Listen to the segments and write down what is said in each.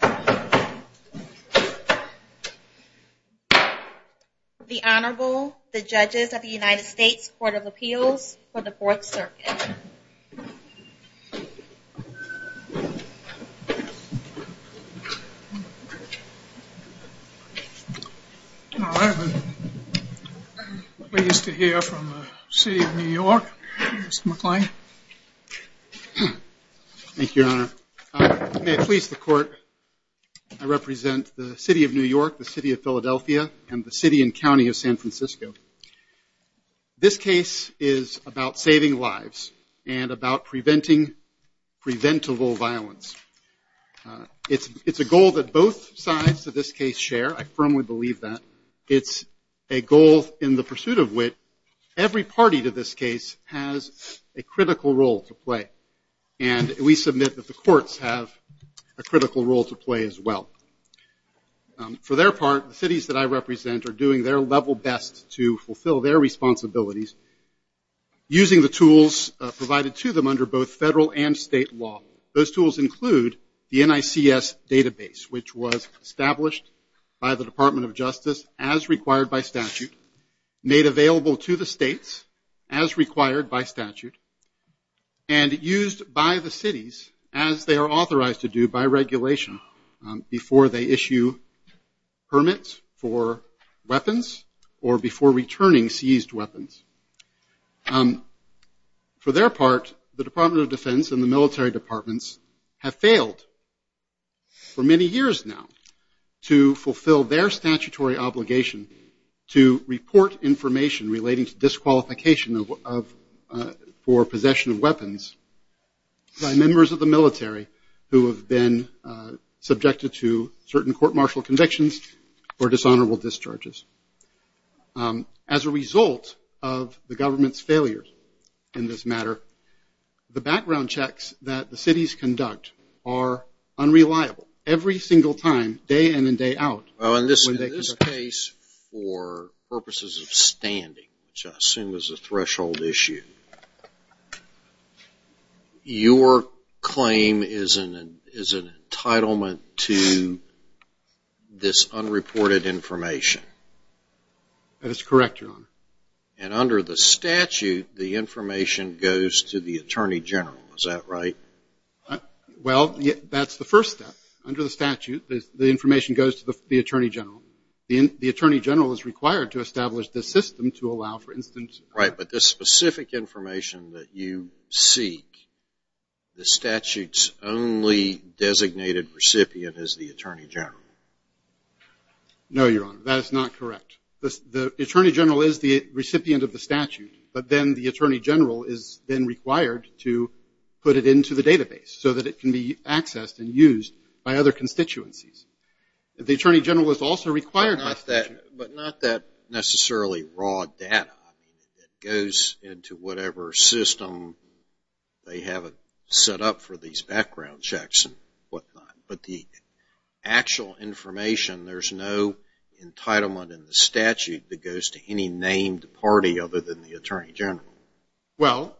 The Honorable, the Judges of the United States Court of Appeals for the Fourth Circuit. May I please the Court, I represent the City of New York, the City of Philadelphia, and the City of Philadelphia, and I'm here to talk to you today about preventing preventable violence. It's a goal that both sides of this case share. I firmly believe that. It's a goal in the pursuit of wit. Every party to this case has a critical role to play, and we submit that the courts have a critical role to play as well. For their part, the cities that I represent are doing their level best to fulfill their responsibilities, using the tools provided to them under both federal and state law. Those tools include the NICS database, which was established by the Department of Justice as required by statute, made available to the states as required by statute, and used by the cities as they are authorized to do by regulation before they issue permits for weapons or before returning seized weapons. For their part, the Department of Defense and the military departments have failed for many years now to fulfill their statutory obligation to report information relating to disqualification for possession of weapons by members of the military who have been subjected to certain court-martial convictions or dishonorable discharges. As a result of the government's failures in this matter, the background checks that the cities conduct are unreliable every single time, day in and day out. Well, in this case, for purposes of standing, which I assume is a threshold issue, your claim is an entitlement to this unreported information. That is correct, Your Honor. And under the statute, the information goes to the Attorney General. Is that right? Well, that's the first step. Under the statute, the information goes to the Attorney General. The Attorney General is required to establish the system to allow, for instance ---- Right. But the specific information that you seek, the statute's only designated recipient is the Attorney General. No, Your Honor. That is not correct. The Attorney General is the recipient of the statute, but then the Attorney General is then required to put it into the database so that it can be accessed and used by other constituencies. The Attorney General is also required to ---- But not that necessarily raw data that goes into whatever system they have set up for these background checks and whatnot, but the actual information, there's no entitlement in the statute that goes to any named party other than the Attorney General. Well,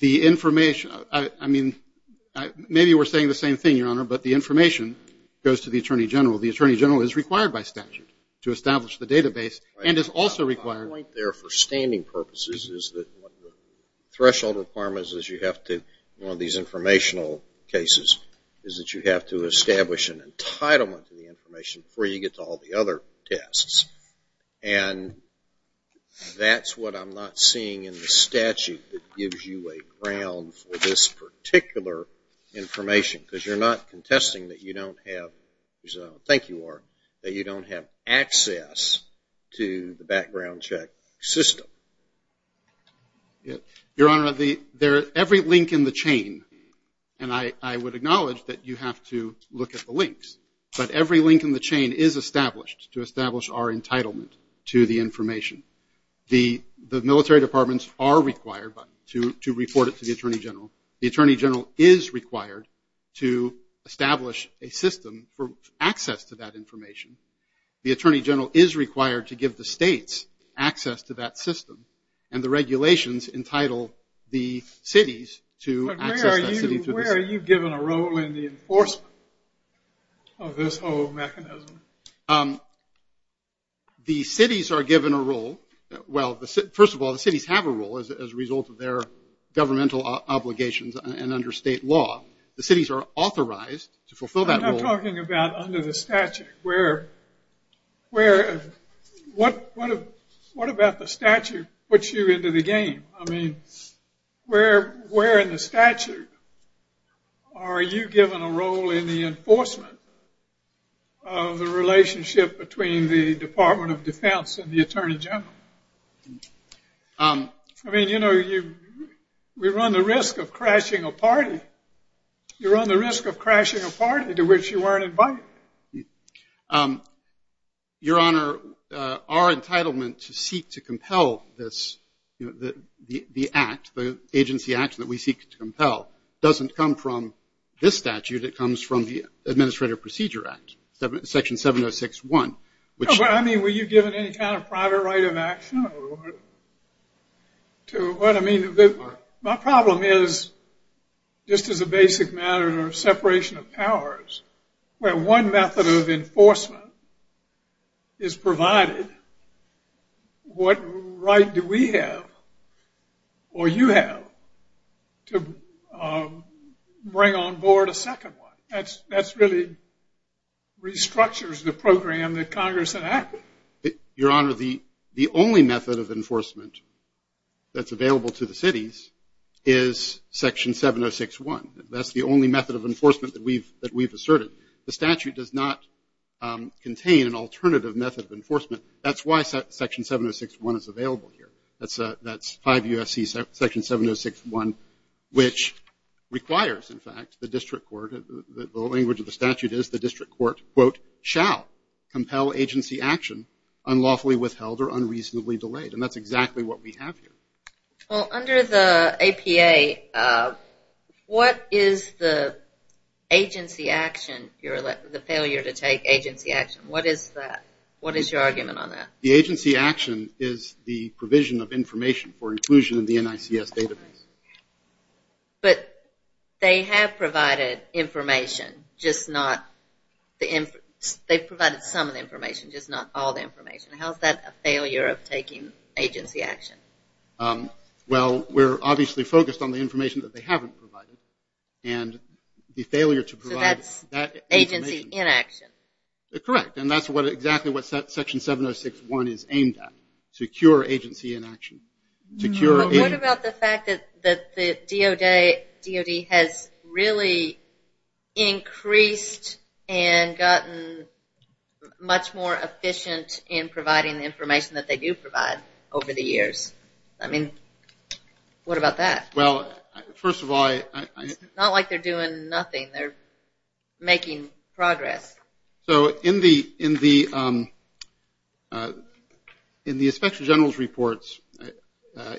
the information, I mean, maybe we're saying the same thing, Your Honor, but the information goes to the Attorney General. The Attorney General is required by statute to establish the database and is also required ---- My point there for standing purposes is that one of the threshold requirements is you have to, in one of these informational cases, is that you have to establish an entitlement to the information before you get to all the other tests. And that's what I'm not seeing in the statute that gives you a ground for this particular information because you're not contesting that you don't have ---- I think you are, that you don't have access to the background check system. Your Honor, every link in the chain, and I would acknowledge that you have to look at the links, but every link in the chain is established to establish our entitlement to the information. The military departments are required to report it to the Attorney General. The Attorney General is required to establish a system for access to that information. The Attorney General is required to give the states access to that system, and the regulations entitle the cities to access that city. Where are you given a role in the enforcement of this whole mechanism? The cities are given a role. Well, first of all, the cities have a role as a result of their governmental obligations and under state law. The cities are authorized to fulfill that role. I'm not talking about under the statute. What about the statute puts you into the game? I mean, where in the statute are you given a role in the enforcement of the relationship between the Department of Defense and the Attorney General? I mean, you know, we run the risk of crashing a party. You run the risk of crashing a party to which you weren't invited. Your Honor, our entitlement to seek to compel this, the act, the agency action that we seek to compel, doesn't come from this statute. It comes from the Administrative Procedure Act, Section 706.1. I mean, were you given any kind of private right of action? To what I mean, my problem is, just as a basic matter of separation of powers, where one method of enforcement is provided, what right do we have, or you have, to bring on board a second one? That really restructures the program that Congress enacted. Your Honor, the only method of enforcement that's available to the cities is Section 706.1. That's the only method of enforcement that we've asserted. The statute does not contain an alternative method of enforcement. That's why Section 706.1 is available here. That's 5 U.S.C. Section 706.1, which requires, in fact, the district court, the language of the statute is the district court, quote, shall compel agency action unlawfully withheld or unreasonably delayed. And that's exactly what we have here. Well, under the APA, what is the agency action, the failure to take agency action? What is that? What is your argument on that? The agency action is the provision of information for inclusion in the NICS database. But they have provided information, just not the – they've provided some of the information, just not all the information. How is that a failure of taking agency action? Well, we're obviously focused on the information that they haven't provided, and the failure to provide that information. So that's agency inaction. Correct. And that's exactly what Section 706.1 is aimed at, to cure agency inaction. What about the fact that the DOD has really increased and gotten much more efficient in providing the information that they do provide over the years? I mean, what about that? Well, first of all, I – It's not like they're doing nothing. They're making progress. So in the Inspector General's reports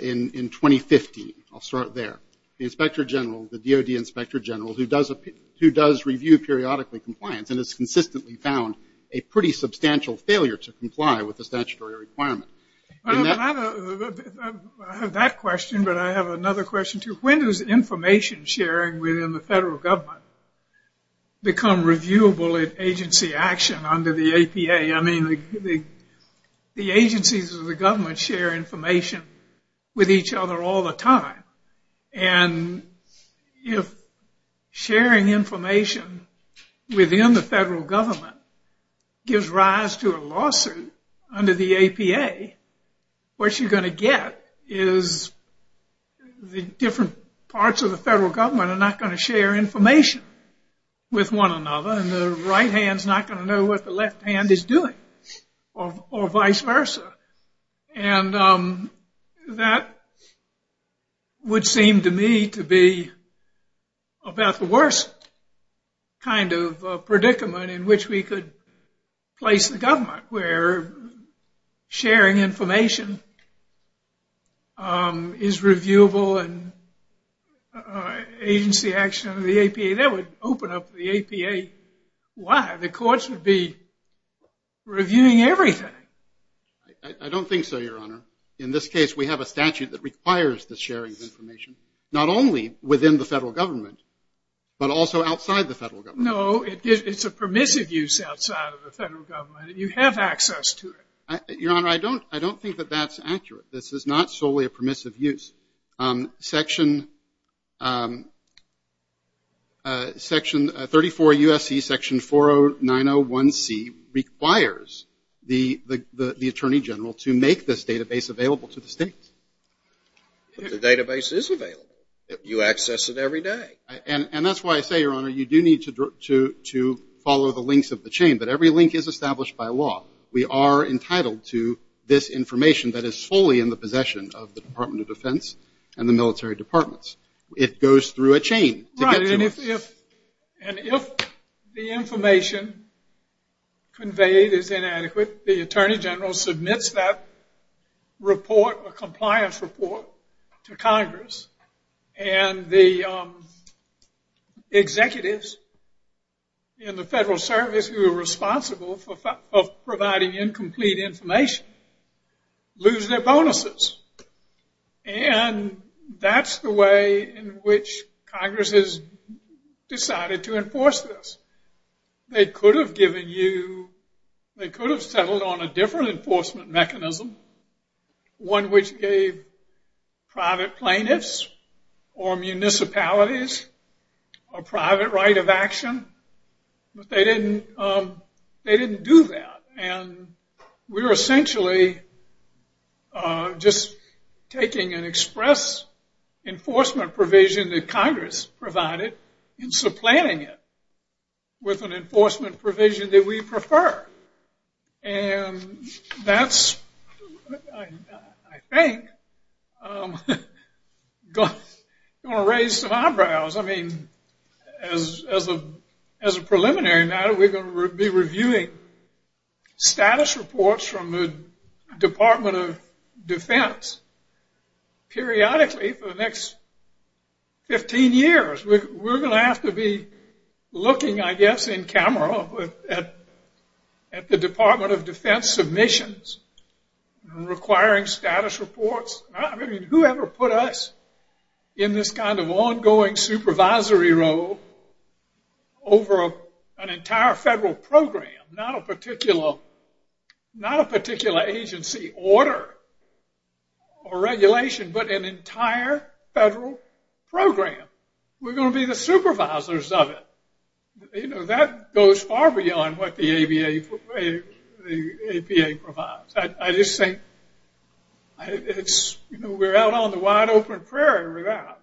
in 2015, I'll start there, the Inspector General, the DOD Inspector General, who does review periodically compliance and has consistently found a pretty substantial failure to comply with the statutory requirement. I have that question, but I have another question, too. When does information sharing within the federal government become reviewable in agency action under the APA? I mean, the agencies of the government share information with each other all the time. And if sharing information within the federal government gives rise to a lawsuit under the APA, what you're going to get is the different parts of the federal government are not going to share information with one another, and the right hand's not going to know what the left hand is doing, or vice versa. And that would seem to me to be about the worst kind of predicament in which we could place the government, where sharing information is reviewable in agency action under the APA. That would open up the APA. Why? The courts would be reviewing everything. I don't think so, Your Honor. In this case, we have a statute that requires the sharing of information, not only within the federal government, but also outside the federal government. No, it's a permissive use outside of the federal government. You have access to it. Your Honor, I don't think that that's accurate. This is not solely a permissive use. Section 34 U.S.C., Section 40901C requires the Attorney General to make this database available to the states. But the database is available. You access it every day. And that's why I say, Your Honor, you do need to follow the links of the chain. But every link is established by law. We are entitled to this information that is fully in the possession of the Department of Defense and the military departments. It goes through a chain. Right. And if the information conveyed is inadequate, the Attorney General submits that report, a compliance report, to Congress. And the executives in the Federal Service who are responsible for providing incomplete information lose their bonuses. And that's the way in which Congress has decided to enforce this. They could have given you, they could have settled on a different enforcement mechanism, one which gave private plaintiffs or municipalities a private right of action. But they didn't do that. And we're essentially just taking an express enforcement provision that Congress provided and supplanting it with an enforcement provision that we prefer. And that's, I think, going to raise some eyebrows. I mean, as a preliminary matter, we're going to be reviewing status reports from the Department of Defense periodically for the next 15 years. We're going to have to be looking, I guess, in camera at the Department of Defense submissions requiring status reports. I mean, whoever put us in this kind of ongoing supervisory role over an entire federal program, not a particular agency order or regulation, but an entire federal program, we're going to be the supervisors of it. You know, that goes far beyond what the APA provides. I just think it's, you know, we're out on the wide open prairie with that.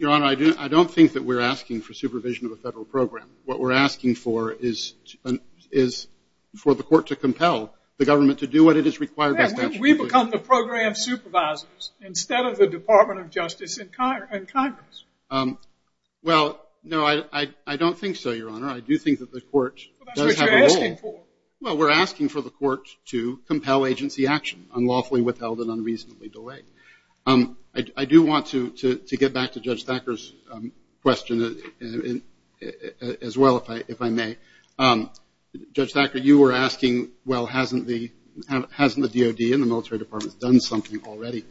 Your Honor, I don't think that we're asking for supervision of a federal program. What we're asking for is for the court to compel the government to do what it is required by statute to do. Yeah, we become the program supervisors instead of the Department of Justice and Congress. Well, no, I don't think so, Your Honor. I do think that the court does have a role. Well, that's what you're asking for. Well, we're asking for the court to compel agency action unlawfully withheld and unreasonably delayed. I do want to get back to Judge Thacker's question as well, if I may. Judge Thacker, you were asking, well, hasn't the DOD and the military departments done something already?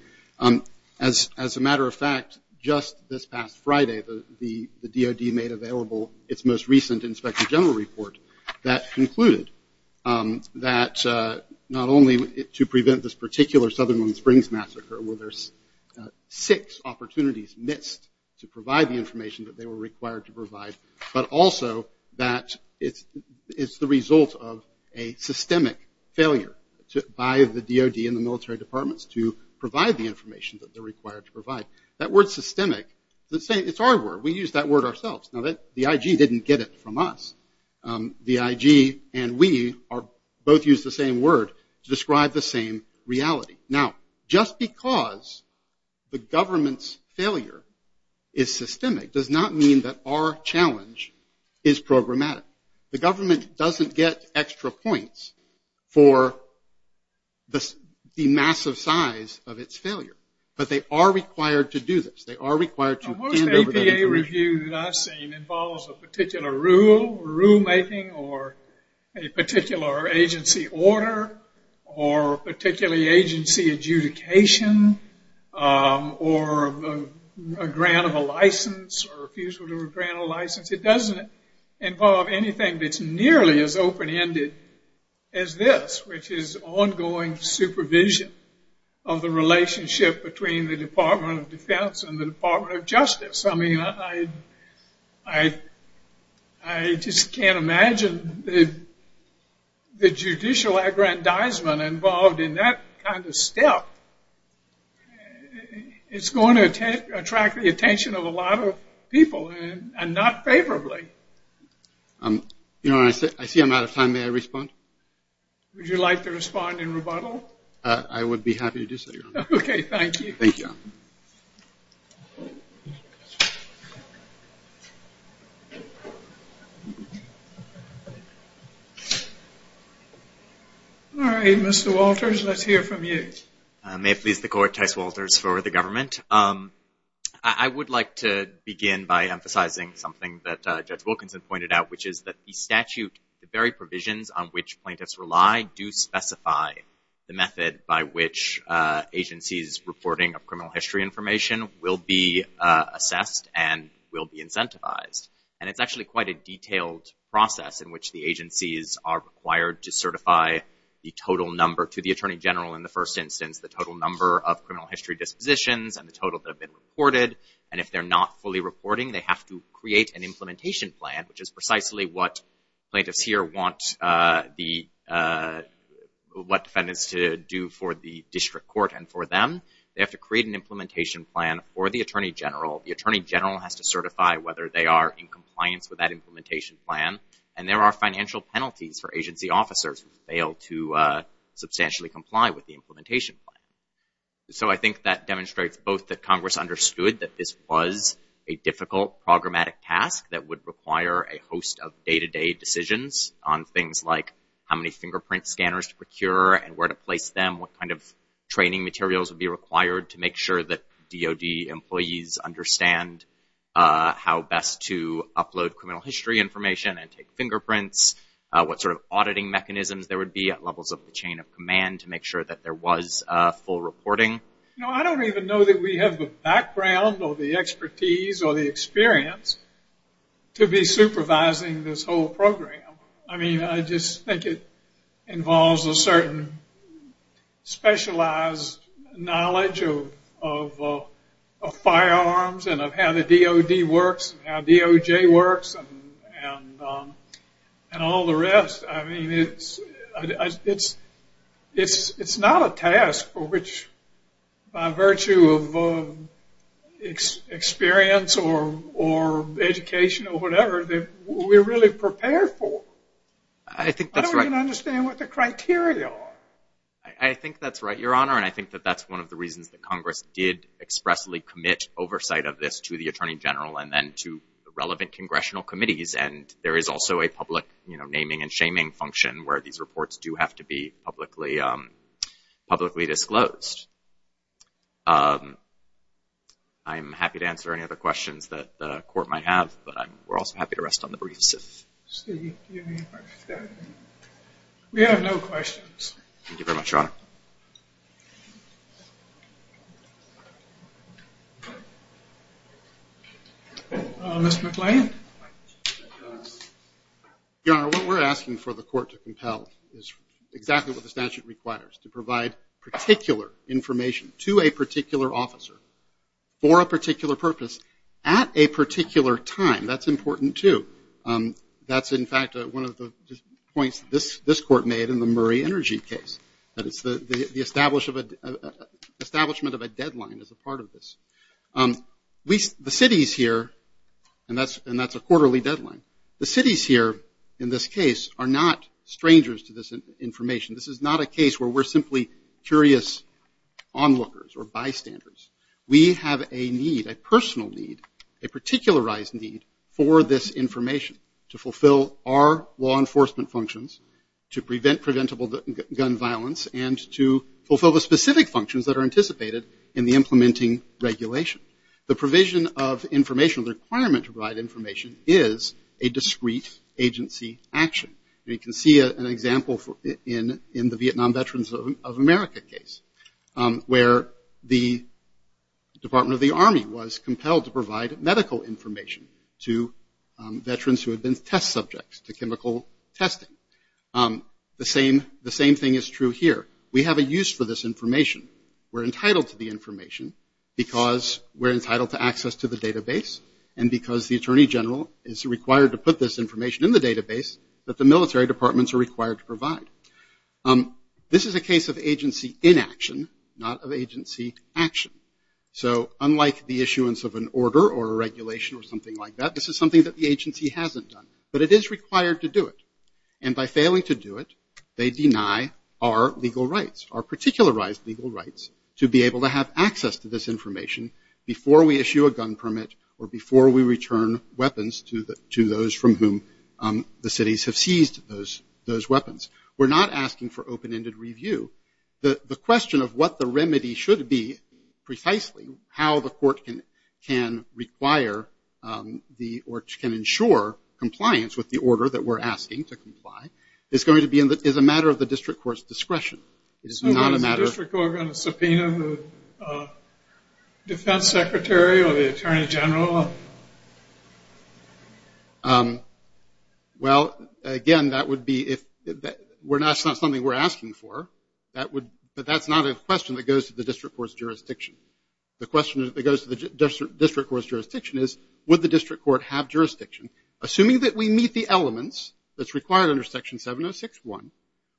As a matter of fact, just this past Friday, the DOD made available its most recent inspector general report that concluded that not only to where there's six opportunities missed to provide the information that they were required to provide, but also that it's the result of a systemic failure by the DOD and the military departments to provide the information that they're required to provide. That word systemic, it's our word. We use that word ourselves. Now, the IG didn't get it from us. The IG and we both use the same word to describe the same reality. Now, just because the government's failure is systemic does not mean that our challenge is programmatic. The government doesn't get extra points for the massive size of its failure, but they are required to do this. They are required to hand over that information. involves a particular rule, rulemaking, or a particular agency order, or particularly agency adjudication, or a grant of a license, or refusal to grant a license. It doesn't involve anything that's nearly as open-ended as this, which is ongoing supervision of the relationship between the Department of Defense and the Department of Justice. I mean, I just can't imagine the judicial aggrandizement involved in that kind of step. It's going to attract the attention of a lot of people, and not favorably. I see I'm out of time. May I respond? Would you like to respond in rebuttal? I would be happy to do so, Your Honor. Okay, thank you. Thank you, Your Honor. All right, Mr. Walters, let's hear from you. May it please the Court, Tice Walters for the government. I would like to begin by emphasizing something that Judge Wilkinson pointed out, which is that the statute, the very provisions on which plaintiffs rely do specify the method by which agencies' reporting of criminal history information will be assessed and will be incentivized. And it's actually quite a detailed process in which the agencies are required to certify the total number to the Attorney General in the first instance, the total number of criminal history dispositions, and the total that have been reported. And if they're not fully reporting, they have to create an implementation plan, which is precisely what plaintiffs here want what defendants to do for the district court and for them. They have to create an implementation plan for the Attorney General. The Attorney General has to certify whether they are in compliance with that implementation plan. And there are financial penalties for agency officers who fail to substantially comply with the implementation plan. So I think that demonstrates both that Congress understood that this was a difficult programmatic task that would require a host of day-to-day decisions on things like how many fingerprint scanners to procure and where to place them, what kind of training materials would be required to make sure that DOD employees understand how best to upload criminal history information and take fingerprints, what sort of auditing mechanisms there would be at levels of the chain of command to make sure that there was full reporting. You know, I don't even know that we have the background or the expertise or the experience to be supervising this whole program. I mean, I just think it involves a certain specialized knowledge of firearms and of how the DOD works and how DOJ works and all the rest. I mean, it's not a task for which, by virtue of experience or education or whatever, we're really prepared for. I don't even understand what the criteria are. I think that's right, Your Honor, and I think that that's one of the reasons that Congress did expressly commit oversight of this to the Attorney General and then to the relevant congressional committees, and there is also a public naming and shaming function where these reports do have to be publicly disclosed. I'm happy to answer any other questions that the Court might have, but we're also happy to rest on the briefs. We have no questions. Thank you very much, Your Honor. Mr. McLean? Your Honor, what we're asking for the Court to compel is exactly what the statute requires, to provide particular information to a particular officer for a particular purpose at a particular time. That's important, too. That's, in fact, one of the points this Court made in the Murray Energy case, that it's the establishment of a deadline as a part of this. The cities here, and that's a quarterly deadline, the cities here in this case are not strangers to this information. This is not a case where we're simply curious onlookers or bystanders. We have a need, a personal need, a particularized need for this information to fulfill our law enforcement functions, to prevent preventable gun violence, and to fulfill the specific functions that are anticipated in the implementing regulation. The provision of information, the requirement to provide information is a discrete agency action. You can see an example in the Vietnam Veterans of America case, where the Department of the Army was compelled to provide medical information to veterans who had been test subjects, to chemical testing. The same thing is true here. We have a use for this information. We're entitled to the information because we're entitled to access to the database, and because the Attorney General is required to put this information in the database that the military departments are required to provide. This is a case of agency inaction, not of agency action. So unlike the issuance of an order or a regulation or something like that, this is something that the agency hasn't done. But it is required to do it. And by failing to do it, they deny our legal rights, our particularized legal rights, to be able to have access to this information before we issue a gun permit or before we return weapons to those from whom the cities have seized those weapons. We're not asking for open-ended review. The question of what the remedy should be, precisely, how the court can require or can ensure compliance with the order that we're asking to comply, is a matter of the district court's discretion. It is not a matter of- So is the district court going to subpoena the Defense Secretary or the Attorney General? Well, again, that would be if that's not something we're asking for. But that's not a question that goes to the district court's jurisdiction. The question that goes to the district court's jurisdiction is, would the district court have jurisdiction? Assuming that we meet the elements that's required under Section 706.1,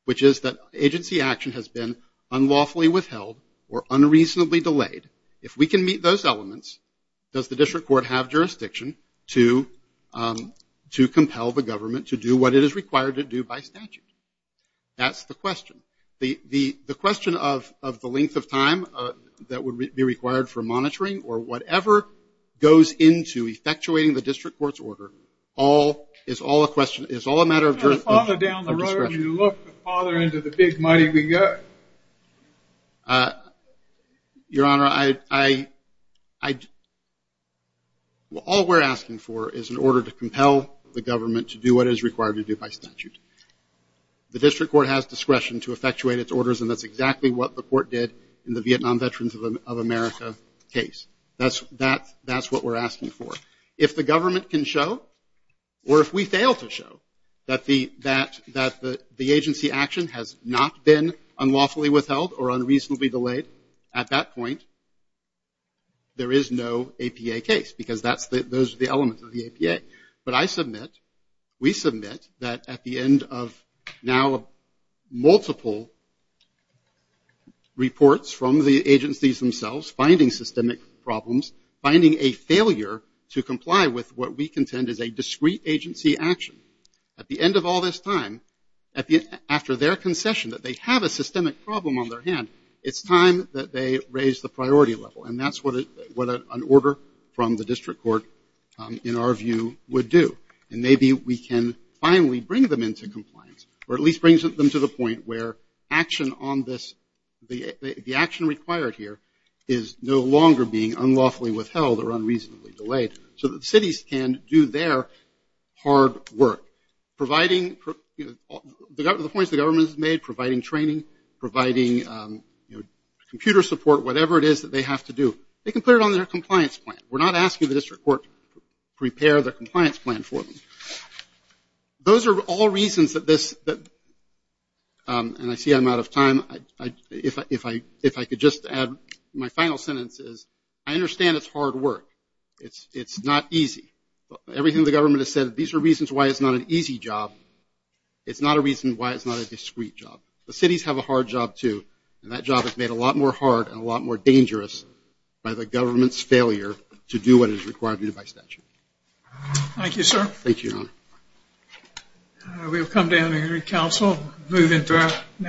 which is that agency action has been unlawfully withheld or unreasonably delayed, if we can meet those elements, does the district court have jurisdiction to compel the government to do what it is required to do by statute? That's the question. The question of the length of time that would be required for monitoring or whatever goes into effectuating the district court's order is all a matter of jurisdiction. You can't follow down the road if you look farther into the big muddy we go. Your Honor, all we're asking for is an order to compel the government to do what is required to do by statute. The district court has discretion to effectuate its orders, and that's exactly what the court did in the Vietnam Veterans of America case. That's what we're asking for. If the government can show, or if we fail to show, that the agency action has not been unlawfully withheld or unreasonably delayed at that point, there is no APA case because those are the elements of the APA. But I submit, we submit, that at the end of now multiple reports from the agencies themselves, finding systemic problems, finding a failure to comply with what we contend is a discrete agency action, at the end of all this time, after their concession that they have a systemic problem on their hand, it's time that they raise the priority level. And that's what an order from the district court, in our view, would do. And maybe we can finally bring them into compliance, or at least bring them to the point where the action required here is no longer being unlawfully withheld or unreasonably delayed so that cities can do their hard work. The points the government has made, providing training, providing computer support, whatever it is that they have to do, they can put it on their compliance plan. We're not asking the district court to prepare their compliance plan for them. Those are all reasons that this, and I see I'm out of time. If I could just add my final sentence is, I understand it's hard work. It's not easy. Everything the government has said, these are reasons why it's not an easy job. It's not a reason why it's not a discrete job. The cities have a hard job, too, and that job is made a lot more hard and a lot more dangerous by the government's failure to do what is required of you by statute. Thank you, sir. Thank you, Your Honor. We'll come down here in council, move into our next case.